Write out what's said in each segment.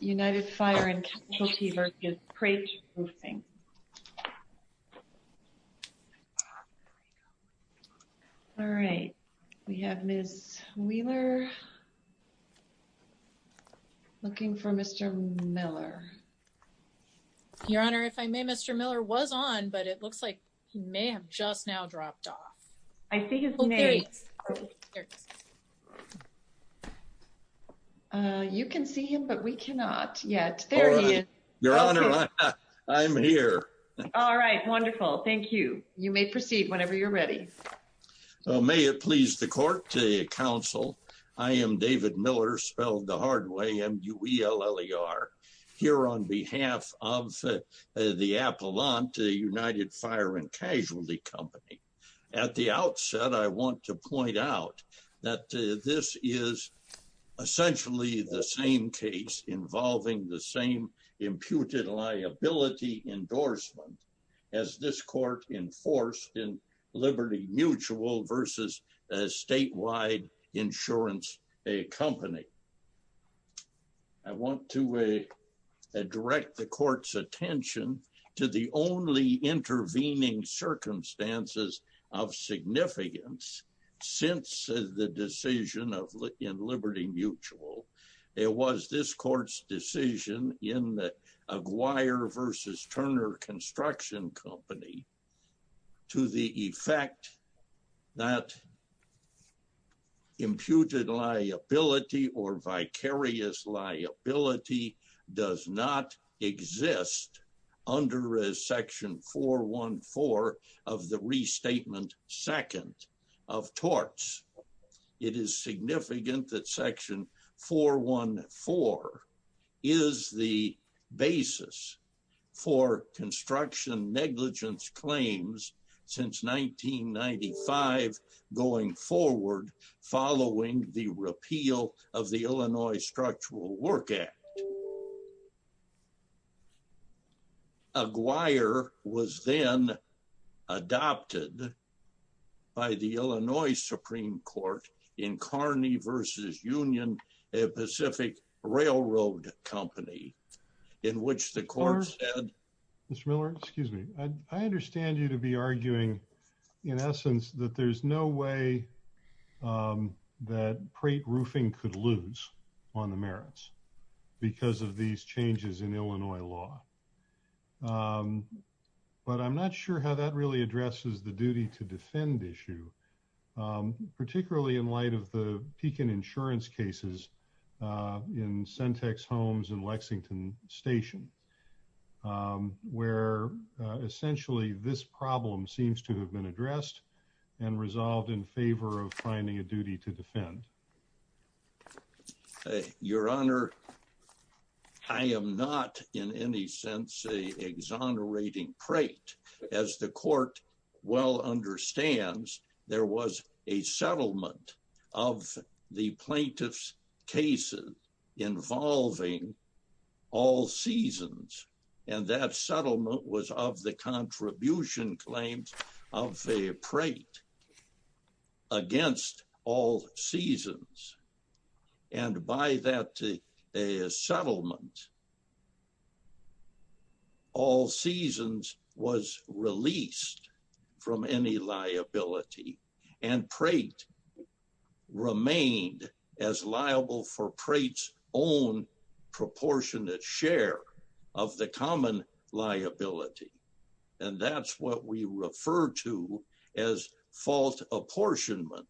United Fire & Casualty vs. Prate Roofing You can see him, but we cannot yet. There he is. Your Honor, I'm here. All right. Wonderful. Thank you. You may proceed whenever you're ready. May it please the court, counsel. I am David Miller, spelled the hard way, M-U-E-L-L-E-R, here on behalf of the Appalachian United Fire & Casualty Company. At the outset, I want to point out that this is essentially the same case involving the same imputed liability endorsement as this court enforced in Liberty Mutual vs. Statewide Insurance Company. I want to direct the court's attention to the only intervening circumstances of significance since the decision in Liberty Mutual. It was this court's decision in the Aguirre vs. Turner Construction Company to the effect that imputed liability or vicarious liability does not exist under Section 414 of the Restatement Second of Torts. It is significant that Section 414 is the basis for construction negligence claims since 1995 going forward following the repeal of the Illinois Structural Work Act. Aguirre was then adopted by the Illinois Supreme Court in Kearney vs. Union, a Pacific Railroad Company, in which the court said... ...that it would not be possible for the company to continue to operate in the United States because of these changes in Illinois law. But I'm not sure how that really addresses the duty to defend issue, particularly in light of the Pekin Insurance cases in Sentex Homes and Lexington Station, where essentially this problem seems to have been addressed and resolved in favor of finding a duty to defend. Your Honor, I am not in any sense an exonerating prate. As the court well understands, there was a settlement of the plaintiff's cases involving all seasons, and that settlement was of the contribution claims of a prate against all seasons. And by that settlement, all seasons was released from any liability, and prate remained as liable for prate's own proportionate share of the common liability. And that's what we refer to as fault apportionment.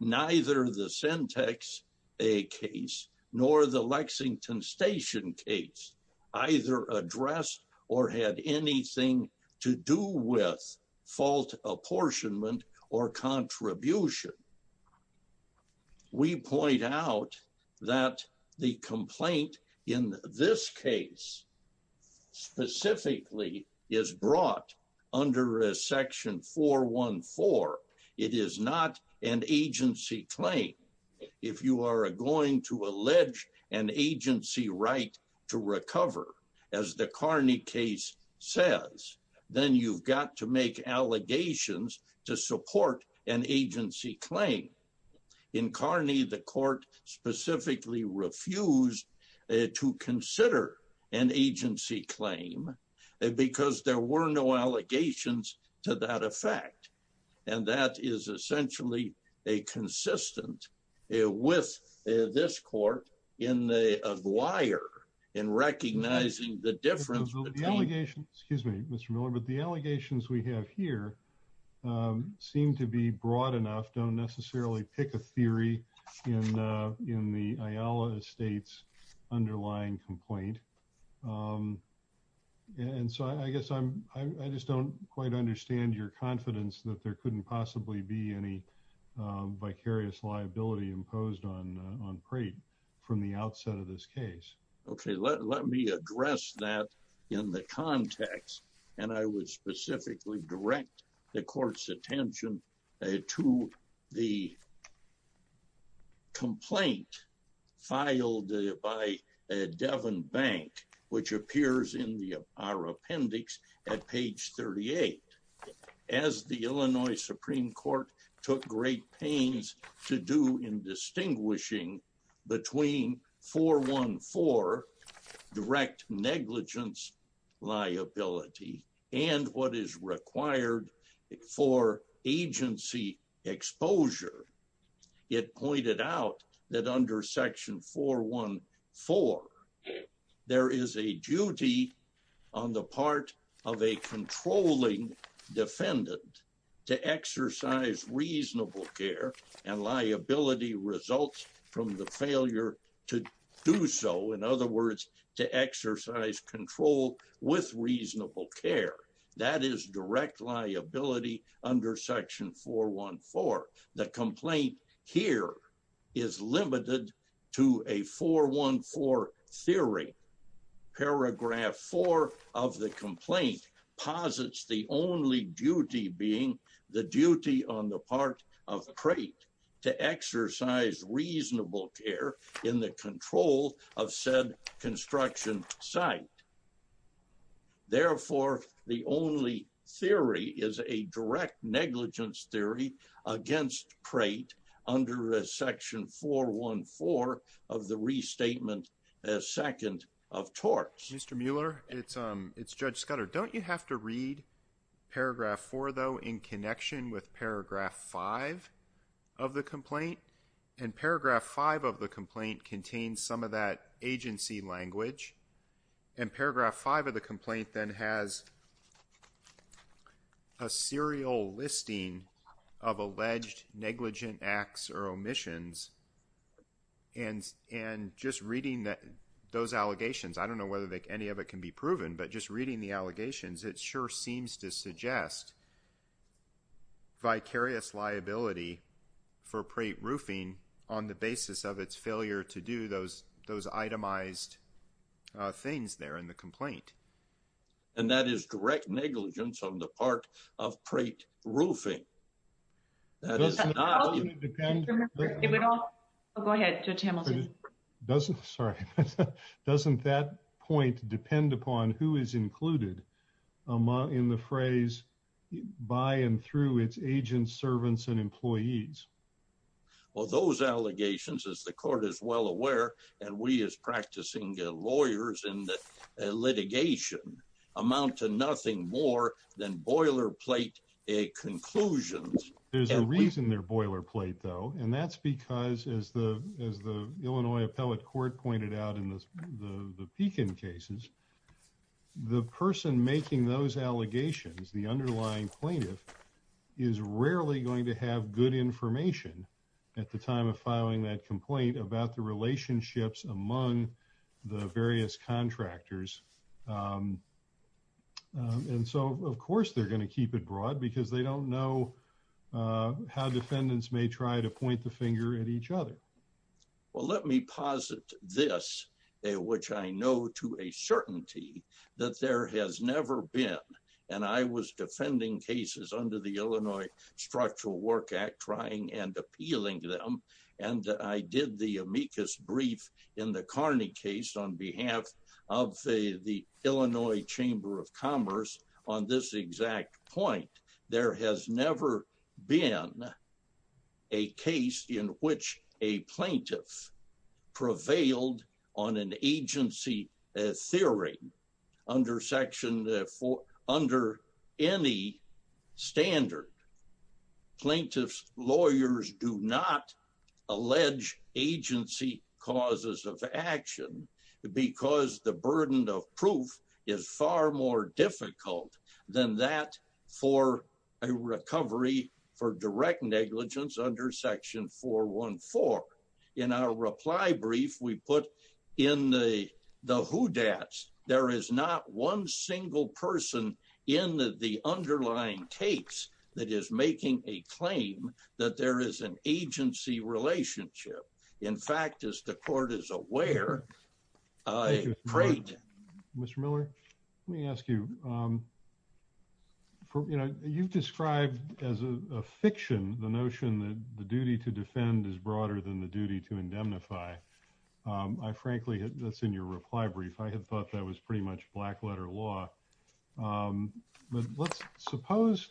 Neither the Sentex A case nor the Lexington Station case either addressed or had anything to do with fault apportionment or contribution. We point out that the complaint in this case specifically is brought under Section 414. It is not an agency claim. If you are going to allege an agency right to recover, as the Carney case says, then you've got to make allegations to support an agency claim. In Carney, the court specifically refused to consider an agency claim because there were no allegations to that effect. And that is essentially a consistent with this court in the wire in recognizing the difference between… I guess I'm, I just don't quite understand your confidence that there couldn't possibly be any vicarious liability imposed on prate from the outset of this case. Okay, let me address that in the context. And I would specifically direct the court's attention to the complaint filed by Devon Bank, which appears in our appendix at page 38. As the Illinois Supreme Court took great pains to do in distinguishing between 414, direct negligence liability, and what is required for agency exposure. It pointed out that under Section 414, there is a duty on the part of a controlling defendant to exercise reasonable care and liability results from the failure to do so. In other words, to exercise control with reasonable care. That is direct liability under Section 414. The complaint here is limited to a 414 theory. Paragraph 4 of the complaint posits the only duty being the duty on the part of the crate to exercise reasonable care in the control of said construction site. Therefore, the only theory is a direct negligence theory against crate under Section 414 of the restatement as second of torts. Mr. Mueller, it's Judge Scudder. Don't you have to read Paragraph 4, though, in connection with Paragraph 5 of the complaint? And Paragraph 5 of the complaint contains some of that agency language. And Paragraph 5 of the complaint then has a serial listing of alleged negligent acts or omissions. And just reading those allegations, I don't know whether any of it can be proven, but just reading the allegations, it sure seems to suggest vicarious liability for crate roofing on the basis of its failure to do those itemized things there in the complaint. And that is direct negligence on the part of crate roofing. Go ahead, Judge Hamilton. Doesn't that point depend upon who is included in the phrase by and through its agents, servants, and employees? Well, those allegations, as the court is well aware, and we as practicing lawyers in litigation, amount to nothing more than boilerplate conclusions. There's a reason they're boilerplate, though, and that's because, as the Illinois Appellate Court pointed out in the Pekin cases, the person making those allegations, the underlying plaintiff, is rarely going to have good information at the time of filing that complaint about the relationships among the various contractors. And so, of course, they're going to keep it broad because they don't know how defendants may try to point the finger at each other. Well, let me posit this, which I know to a certainty, that there has never been, and I was defending cases under the Illinois Structural Work Act, trying and appealing to them, and I did the amicus brief in the Carney case on behalf of the Illinois Chamber of Commerce on this exact point. There has never been a case in which a plaintiff prevailed on an agency theory under any standard. Plaintiff's lawyers do not allege agency causes of action because the burden of proof is far more difficult than that for a recovery for direct negligence under Section 414. In our reply brief, we put in the whodats, there is not one single person in the underlying case that is making a claim that there is an agency relationship. In fact, as the court is aware, a crate. Mr. Miller, let me ask you, you know, you've described as a fiction, the notion that the duty to defend is broader than the duty to indemnify. I frankly, that's in your reply brief, I had thought that was pretty much black letter law. But let's suppose,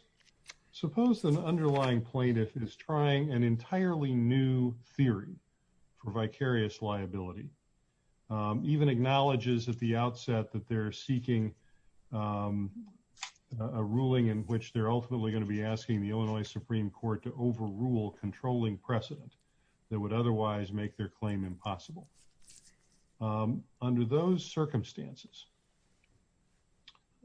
suppose the underlying plaintiff is trying an entirely new theory for vicarious liability. Even acknowledges at the outset that they're seeking a ruling in which they're ultimately going to be asking the Illinois Supreme Court to overrule controlling precedent that would otherwise make their claim impossible. Under those circumstances.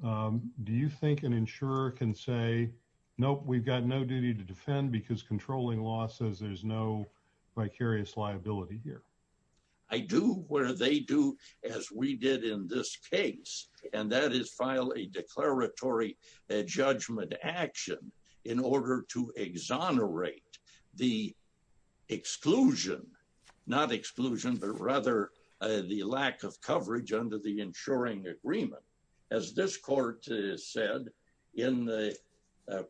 Do you think an insurer can say, Nope, we've got no duty to defend because controlling law says there's no vicarious liability here. I do what they do, as we did in this case, and that is file a declaratory judgment action in order to exonerate the exclusion, not exclusion, but rather the lack of coverage under the insuring agreement. As this court said in the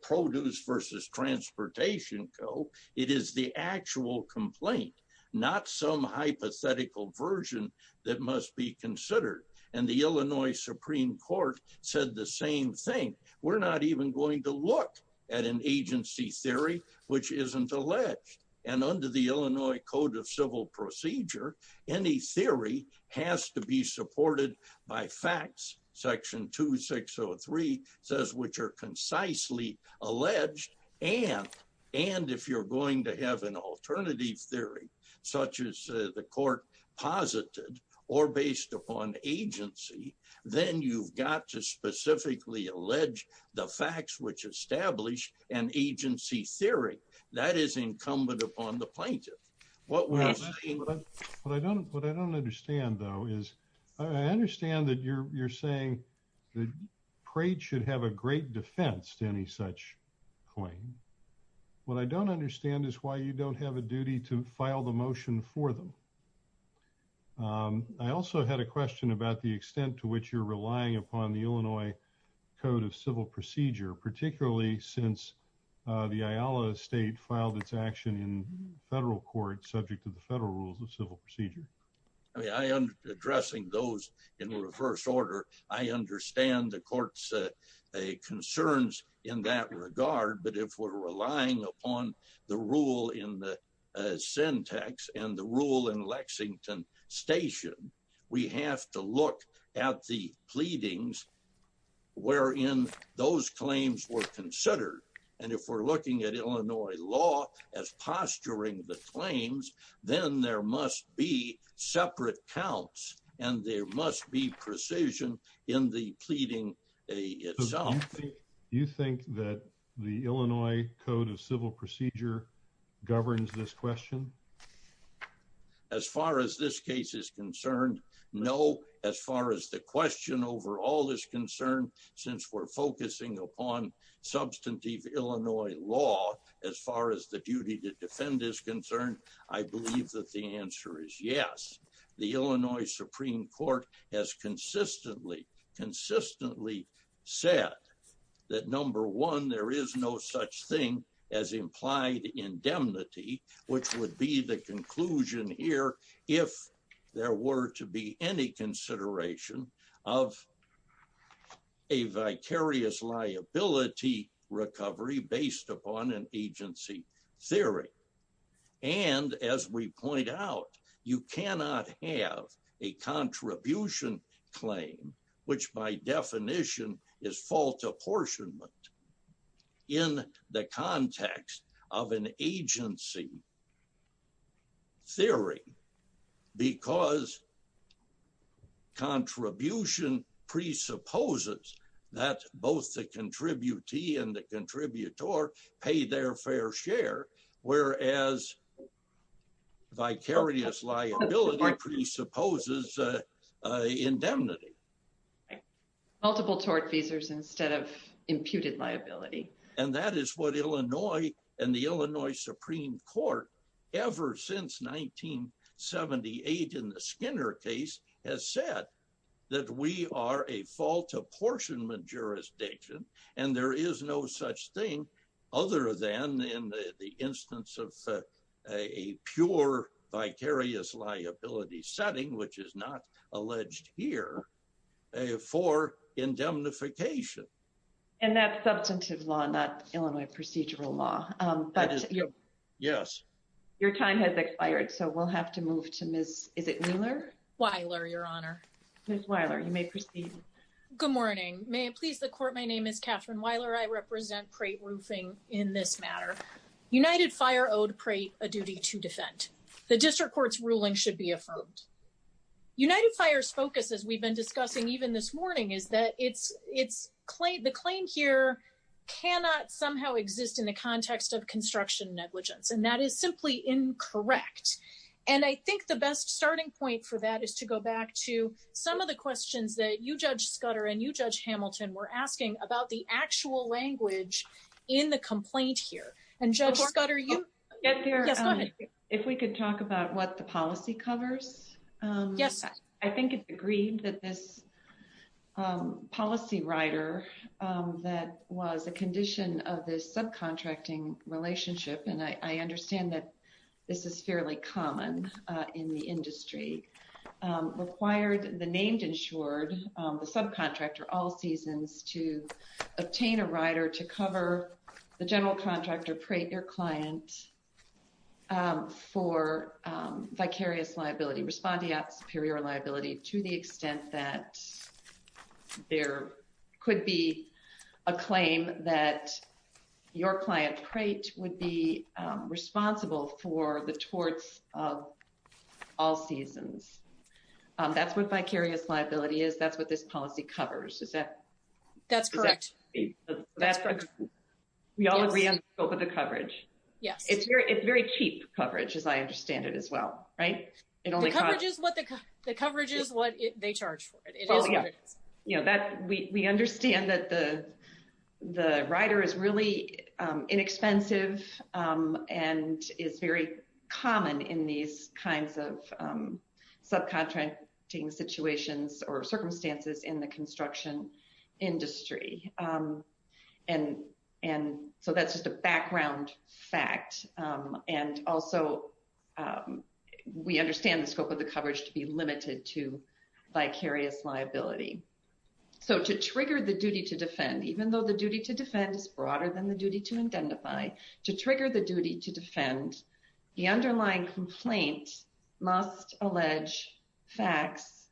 produce versus transportation co it is the actual complaint, not some hypothetical version that must be considered, and the Illinois Supreme Court said the same thing. We're not even going to look at an agency theory, which isn't a ledge and under the Illinois Code of Civil Procedure. Any theory has to be supported by facts section 2603 says which are concisely alleged, and, and if you're going to have an alternative agency theory, such as the court posited or based upon agency, then you've got to specifically allege the facts which established an agency theory that is incumbent upon the plaintiff. What was what I don't what I don't understand though is, I understand that you're, you're saying the crate should have a great defense to any such point. What I don't understand is why you don't have a duty to file the motion for them. I also had a question about the extent to which you're relying upon the Illinois Code of Civil Procedure, particularly since the state filed its action in federal court subject to the federal rules of civil procedure. I am addressing those in reverse order. I understand the courts, a concerns in that regard, but if we're relying upon the rule in the syntax and the rule in Lexington station. We have to look at the pleadings, where in those claims were considered. And if we're looking at Illinois law as posturing the claims, then there must be separate counts, and there must be precision in the pleading itself. You think that the Illinois Code of Civil Procedure governs this question. As far as this case is concerned. No, as far as the question over all this concern, since we're focusing upon substantive Illinois law, as far as the duty to defend is concerned, I believe that the answer is yes. The Illinois Supreme Court has consistently consistently said that number one, there is no such thing as implied indemnity, which would be the conclusion here, if there were to be any consideration of a vicarious liability recovery based upon an agency theory. And as we point out, you cannot have a contribution claim, which by definition is fault apportionment in the context of an agency theory, because contribution presupposes that both the contributee and the contributor pay their fair share. Whereas vicarious liability presupposes indemnity, multiple tort visas instead of imputed liability. And that is what Illinois, and the Illinois Supreme Court, ever since 1978 in the Skinner case has said that we are a fault apportionment jurisdiction. And there is no such thing other than in the instance of a pure vicarious liability setting, which is not alleged here for indemnification. And that's substantive law, not Illinois procedural law. Yes. Your time has expired, so we'll have to move to Miss, is it Wheeler? Wyler, Your Honor. Miss Wyler, you may proceed. Good morning. May it please the court. My name is Catherine Wyler. I represent Prate Roofing in this matter. United Fire owed Prate a duty to defend. The district court's ruling should be affirmed. United Fire's focus, as we've been discussing even this morning, is that it's it's claimed the claim here cannot somehow exist in the context of construction negligence, and that is simply incorrect. And I think the best starting point for that is to go back to some of the questions that you, Judge Scudder, and you, Judge Hamilton, were asking about the actual language in the complaint here. And Judge Scudder, you. If we could talk about what the policy covers. Yes. I think it's agreed that this policy rider that was a condition of this subcontracting relationship, and I understand that this is fairly common in the industry, required the named insured subcontractor all seasons to obtain a rider to cover the general contractor, your client for vicarious liability respondeat superior liability to the extent that there could be a claim that your client crate would be responsible for the torts of all seasons. That's what vicarious liability is that's what this policy covers is that. That's correct. We all agree on the scope of the coverage. Yes, it's very it's very cheap coverage as I understand it as well. Right. It only coverages what the coverage is what they charge for it. You know that we understand that the, the rider is really inexpensive, and is very common in these kinds of subcontracting situations or circumstances in the construction industry. And, and so that's just a background fact. And also, we understand the scope of the coverage to be limited to vicarious liability. So to trigger the duty to defend even though the duty to defend is broader than the duty to identify to trigger the duty to defend the underlying complaint must allege facts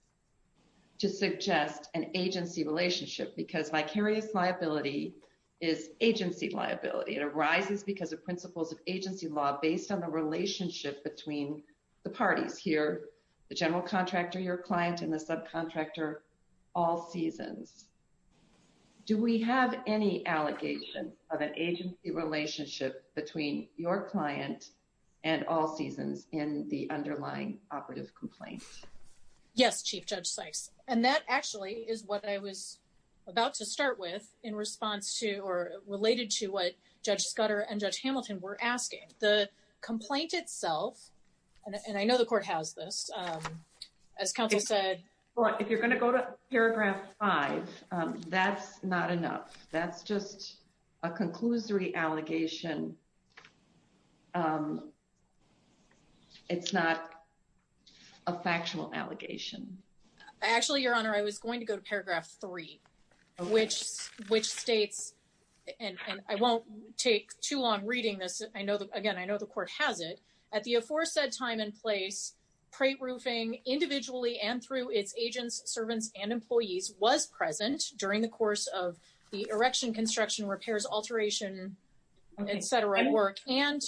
to suggest an agency relationship because vicarious liability is agency liability arises because of principles of agency law based on the relationship between the parties here, the general contractor your client and the subcontractor all seasons. Do we have any allegations of an agency relationship between your client and all seasons in the underlying operative complaint. Yes, Chief Judge Sykes, and that actually is what I was about to start with, in response to or related to what Judge Scudder and Judge Hamilton were asking the complaint itself. And I know the court has this. As Council said, if you're going to go to paragraph five. That's not enough. That's just a conclusory allegation. It's not a factual allegation. Actually, Your Honor, I was going to go to paragraph three, which, which states, and I won't take too long reading this, I know that again I know the court has it at the aforesaid time and place pre roofing individually and through its agents servants and employees was present during the course of the erection construction repairs alteration, etc work and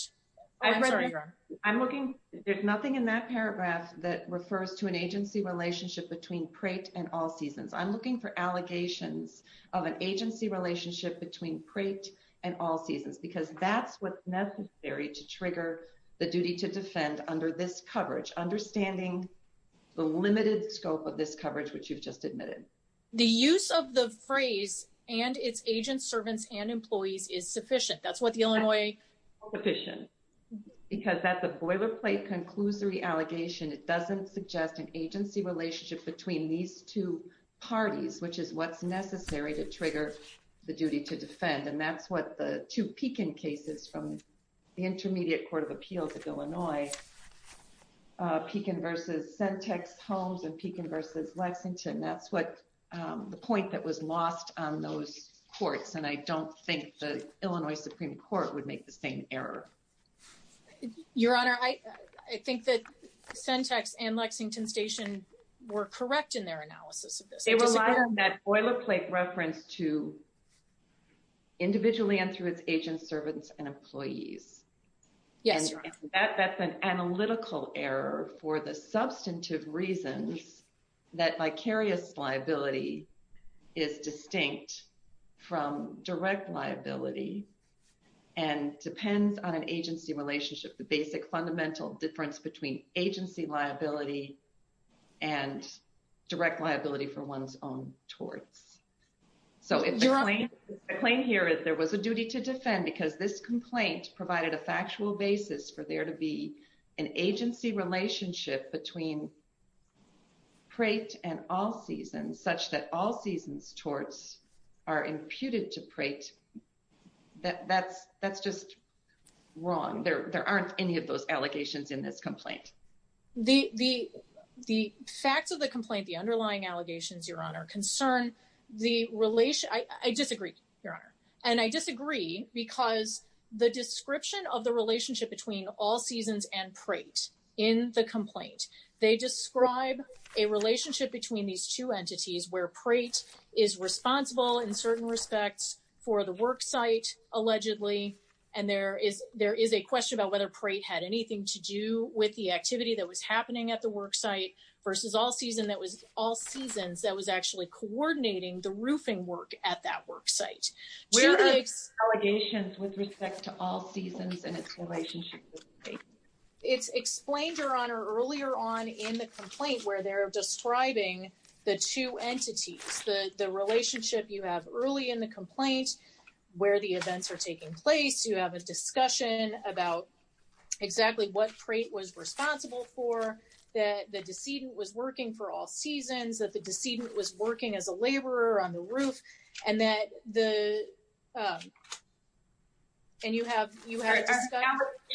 I'm looking, there's nothing in that paragraph that refers to an agency relationship between crate and all seasons I'm looking for scope of this coverage which you've just admitted the use of the phrase, and its agents servants and employees is sufficient that's what the Illinois petition, because that's a boilerplate conclusory allegation it doesn't suggest an agency relationship between these two parties which is what's necessary to trigger the duty to defend and that's what the two peaking cases from the Intermediate Court of Appeals of Illinois peaking versus syntax homes and peaking versus Lexington that's what the point that was in their analysis of this boilerplate reference to individually and through its agents servants and employees. Yes, that's an analytical error for the substantive reasons that vicarious liability is distinct from direct liability and depends on an agency relationship the basic fundamental difference between agency liability and direct liability for one's own towards. So if you're on a plane here if there was a duty to defend because this complaint provided a factual basis for there to be an agency relationship between crate and all seasons such that all seasons towards are imputed to pray that that's that's just wrong there there aren't any of those allegations in this complaint. The, the, the facts of the complaint the underlying allegations Your Honor concern, the relation I disagree, Your Honor, and I disagree, because the description of the relationship between all seasons and praise in the complaint, they describe a relationship between these two entities where praise is responsible in certain respects for the work site, allegedly, and there is there is a question about whether pray had anything to do with the activity that was happening at the work site versus all season that was all seasons that was actually coordinating the roofing work at that work site. Allegations with respect to all seasons and its relationship. It's explained Your Honor earlier on in the complaint where they're describing the two entities, the, the relationship you have early in the complaint, where the events are taking place you have a discussion about exactly what crate was responsible for that the decedent was working for all seasons that the decedent was working as a laborer on the roof, and that the. And you have you had And in fact that is the same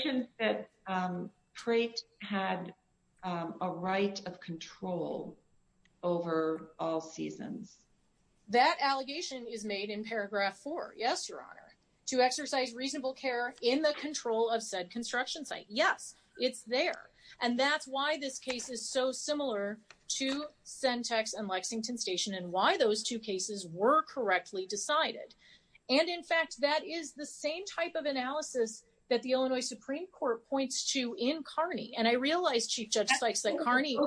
type of analysis that the Illinois Supreme Court points to in Carney and I realized she just likes that Carney,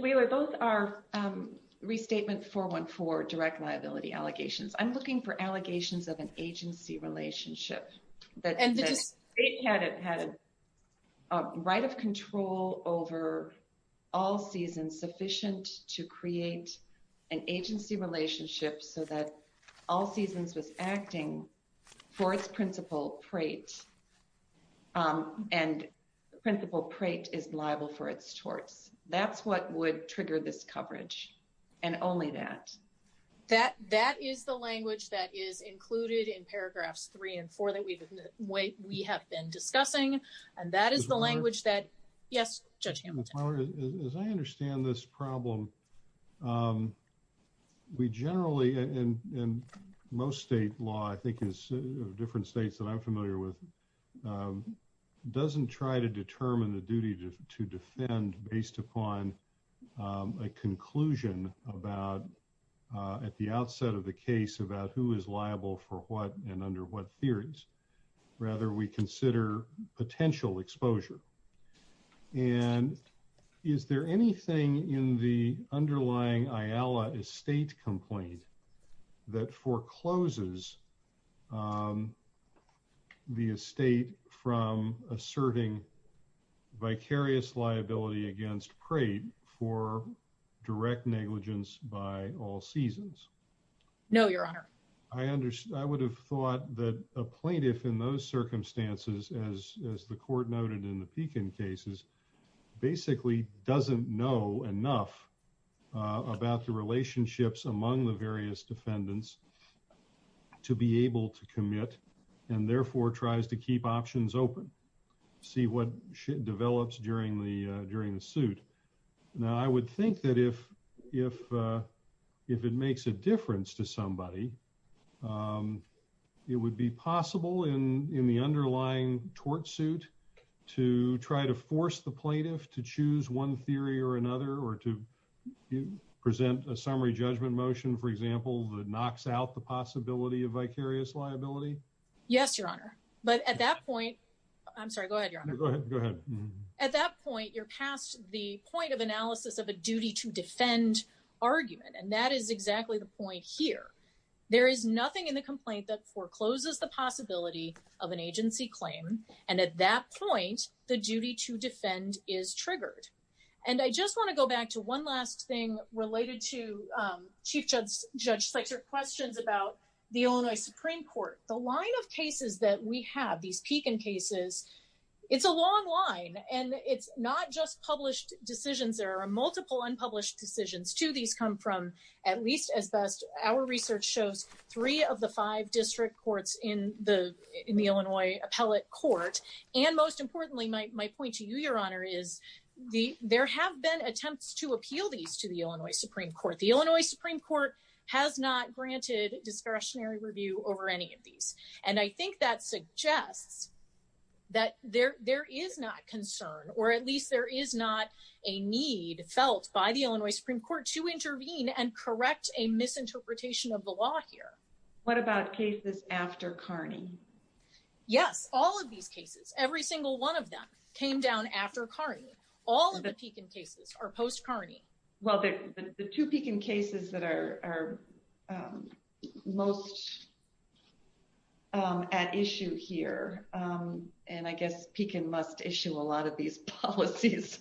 we were both our restatement for one for direct liability allegations I'm looking for allegations of an agency relationship that had it had a right of control over all season sufficient to create an agency relationship so that all seasons was acting for its principal crate. And principal crate is liable for its torts, that's what would trigger this coverage, and only that, that, that is the language that is included in paragraphs three and four that we wait, we have been discussing, and that is the language that. Yes. As I understand this problem. We generally and most state law I think is different states that I'm familiar with. Doesn't try to determine the duty to defend based upon a conclusion about at the outset of the case about who is liable for what and under what theories. Rather, we consider potential exposure. And is there anything in the underlying I Allah estate complaint that forecloses. The estate from asserting vicarious liability against crate for direct negligence by all seasons. No, Your Honor, I understand I would have thought that a plaintiff in those circumstances as as the court noted in the beacon cases, basically doesn't know enough about the relationships among the various defendants to be able to commit, and therefore tries to keep options open. See what develops during the during the suit. Now I would think that if, if, if it makes a difference to somebody. It would be possible in in the underlying tort suit to try to force the plaintiff to choose one theory or another or to present a summary judgment motion for example the knocks out the possibility of vicarious liability. Yes, Your Honor. But at that point, I'm sorry, go ahead. At that point, you're past the point of analysis of a duty to defend argument and that is exactly the point here. There is nothing in the complaint that forecloses the possibility of an agency claim, and at that point, the duty to defend is triggered. And I just want to go back to one last thing related to Chief Judge Judge sector questions about the only Supreme Court, the line of cases that we have these peak in cases. It's a long line, and it's not just published decisions there are multiple unpublished decisions to these come from, at least as best, our research shows, three of the five district courts in the, in the Illinois appellate court. And most importantly, my point to you, Your Honor is the, there have been attempts to appeal these to the Illinois Supreme Court, the Illinois Supreme Court has not granted discretionary review over any of these. And I think that suggests that there, there is not concern, or at least there is not a need felt by the Illinois Supreme Court to intervene and correct a misinterpretation of the law here. What about cases after Carney. Yes, all of these cases, every single one of them came down after Carney, all of the peaking cases are post Carney. Well, the two peaking cases that are most at issue here. And I guess peaking must issue a lot of these policies.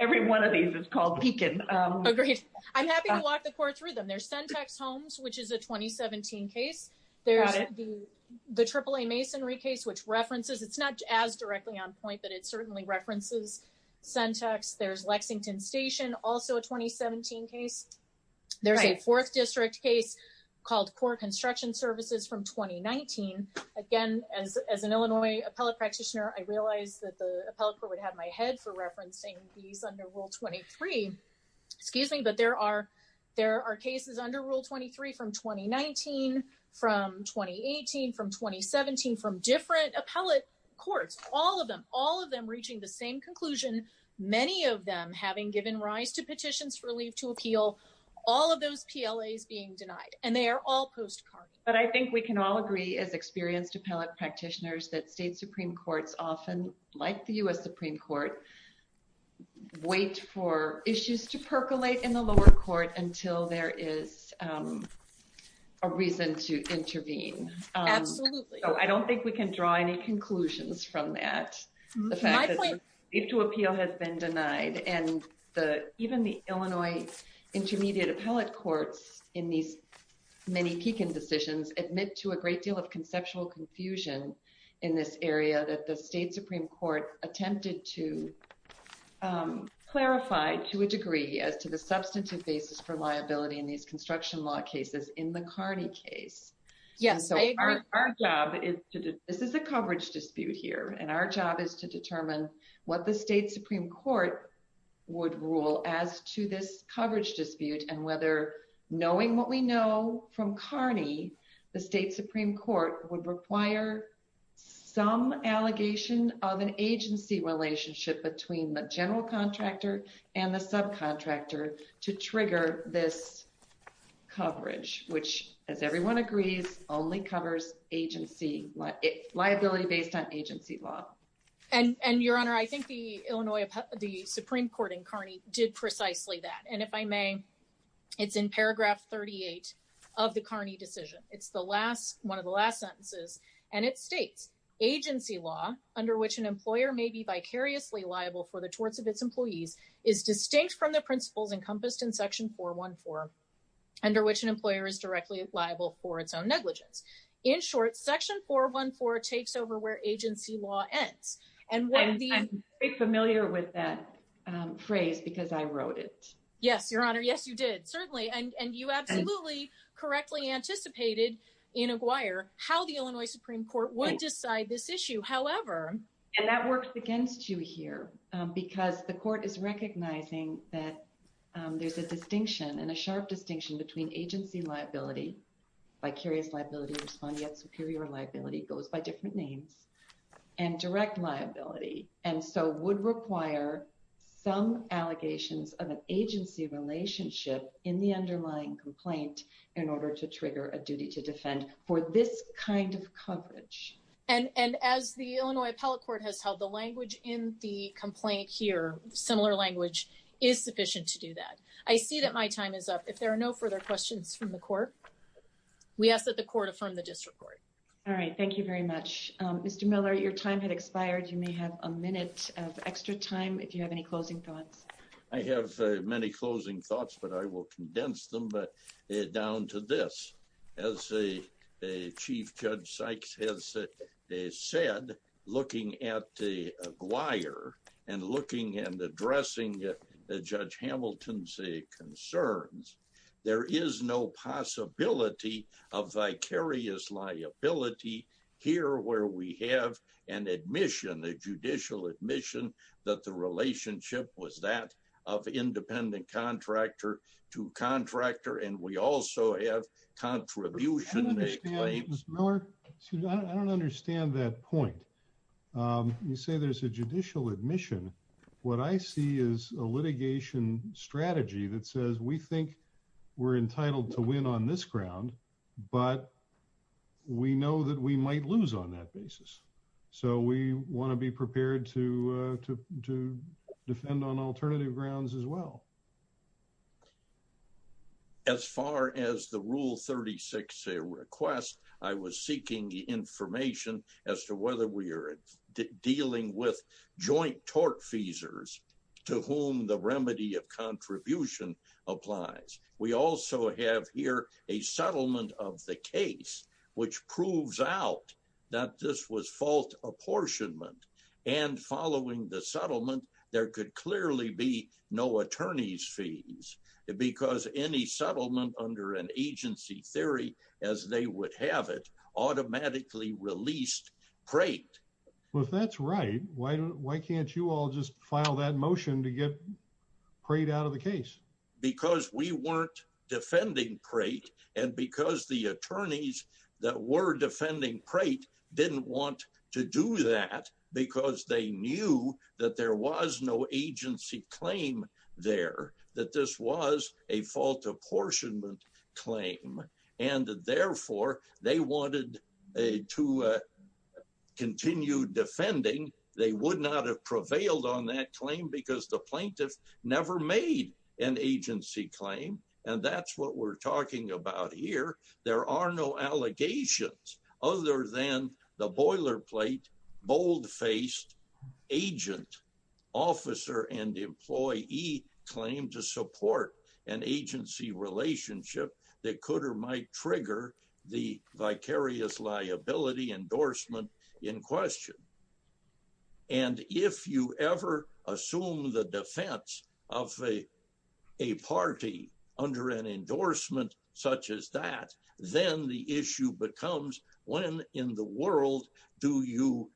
Every one of these is called peaking. I'm happy to walk the court through them their syntax homes which is a 2017 case. There's the triple a masonry case which references it's not as directly on point that it certainly references syntax there's Lexington Station, also a 2017 case. There's a fourth district case called poor construction services from 2019. Again, as an Illinois appellate practitioner I realized that the appellate court would have my head for referencing these under Rule 23, excuse me, but there are, there are cases under Rule 23 from 2019 from 2018 from 2017 from different appellate courts, all of them, all of them reaching the same conclusion. Many of them having given rise to petitions for leave to appeal. All of those PLA is being denied, and they are all postcard, but I think we can all agree as experienced appellate practitioners that state Supreme Court's often like the US Supreme Court. Wait for issues to percolate in the lower court until there is a reason to intervene. I don't think we can draw any conclusions from that. If to appeal has been denied and the even the Illinois intermediate appellate courts in these many peaking decisions admit to a great deal of conceptual confusion in this area that the state Supreme Court attempted to clarify to a degree as to the substantive basis for liability in these construction law cases in the Carney case. Yes, so our, our job is to do this is a coverage dispute here and our job is to determine what the state Supreme Court would rule as to this coverage dispute and whether knowing what we know from Carney, the state Supreme Court would require some allegation of an agency relationship between the general contractor and the subcontractor to trigger this coverage, which, as everyone agrees, only covers agency liability based on agency law. And, and your honor I think the Illinois, the Supreme Court in Carney did precisely that and if I may, it's in paragraph 38 of the Carney decision, it's the last one of the last sentences, and it states agency law, under which an employer may be vicariously liable for the And familiar with that phrase because I wrote it. Yes, Your Honor Yes you did certainly and you absolutely correctly anticipated in a wire, how the Illinois Supreme Court would decide this issue, however, and that works against you here, because the court is recognizing that there's a distinction and a sharp distinction between agency liability vicarious liability respond yet superior liability goes by different names and direct liability, and so would require some allegations of an agency relationship in the underlying complaint, in order to trigger a duty to defend for this kind of coverage. And as the Illinois appellate court has held the language in the complaint here, similar language is sufficient to do that. I see that my time is up if there are no further questions from the court. We asked that the court from the district court. All right, thank you very much, Mr Miller your time had expired, you may have a minute of extra time if you have any closing thoughts. I have many closing thoughts but I will condense them but down to this as a chief judge Sykes has said, they said, looking at the wire and looking and addressing the judge Hamilton say concerns. There is no possibility of vicarious liability here where we have an admission the judicial admission that the relationship was that of independent contractor to contractor and we also have contribution. I don't understand that point. You say there's a judicial admission. What I see is a litigation strategy that says we think we're entitled to win on this ground, but we know that we might lose on that basis. So we want to be prepared to, to, to defend on alternative grounds as well. As far as the rule 36 a request. I was seeking the information as to whether we are dealing with joint tort feasors, to whom the remedy of contribution applies. We also have here, a settlement of the case, which proves out that this was fault apportionment and following the settlement, there could clearly be no attorneys fees, because any settlement under an agency theory, as they would have it automatically released crate. Well, if that's right, why don't, why can't you all just file that motion to get prayed out of the case, because we weren't defending crate, and because the attorneys that were defending crate didn't want to do that, because they knew that there was no agency claim there, that this was a fault apportionment claim. And therefore, they wanted to continue defending, they would not have prevailed on that claim because the plaintiffs never made an agency claim. And that's what we're talking about here. There are no allegations, other than the boilerplate bold faced agent officer and employee claim to support an agency relationship that could or might trigger the vicarious liability endorsement in question. And if you ever assume the defense of a party under an endorsement, such as that, then the issue becomes, when in the world, do you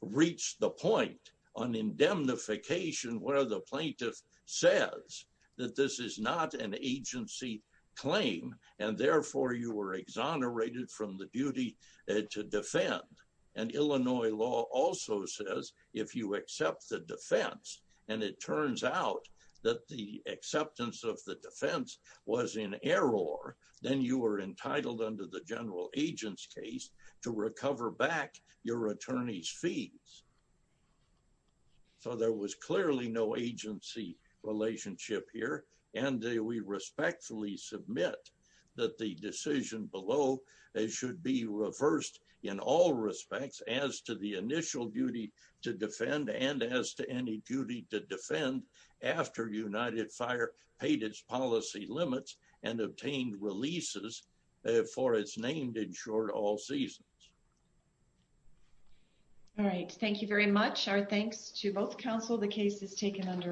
reach the point on indemnification where the plaintiff says that this is not an agency claim, and therefore you were exonerated from the duty to defend. And Illinois law also says, if you accept the defense, and it turns out that the acceptance of the defense was in error, then you are entitled under the general agent's case to recover back your attorney's fees. So there was clearly no agency relationship here, and we respectfully submit that the decision below it should be reversed in all respects as to the initial duty to defend and as to any duty to defend after United Fire paid its policy limits and obtained releases for its named in short all seasons. All right. Thank you very much. Our thanks to both counsel. The case is taken under.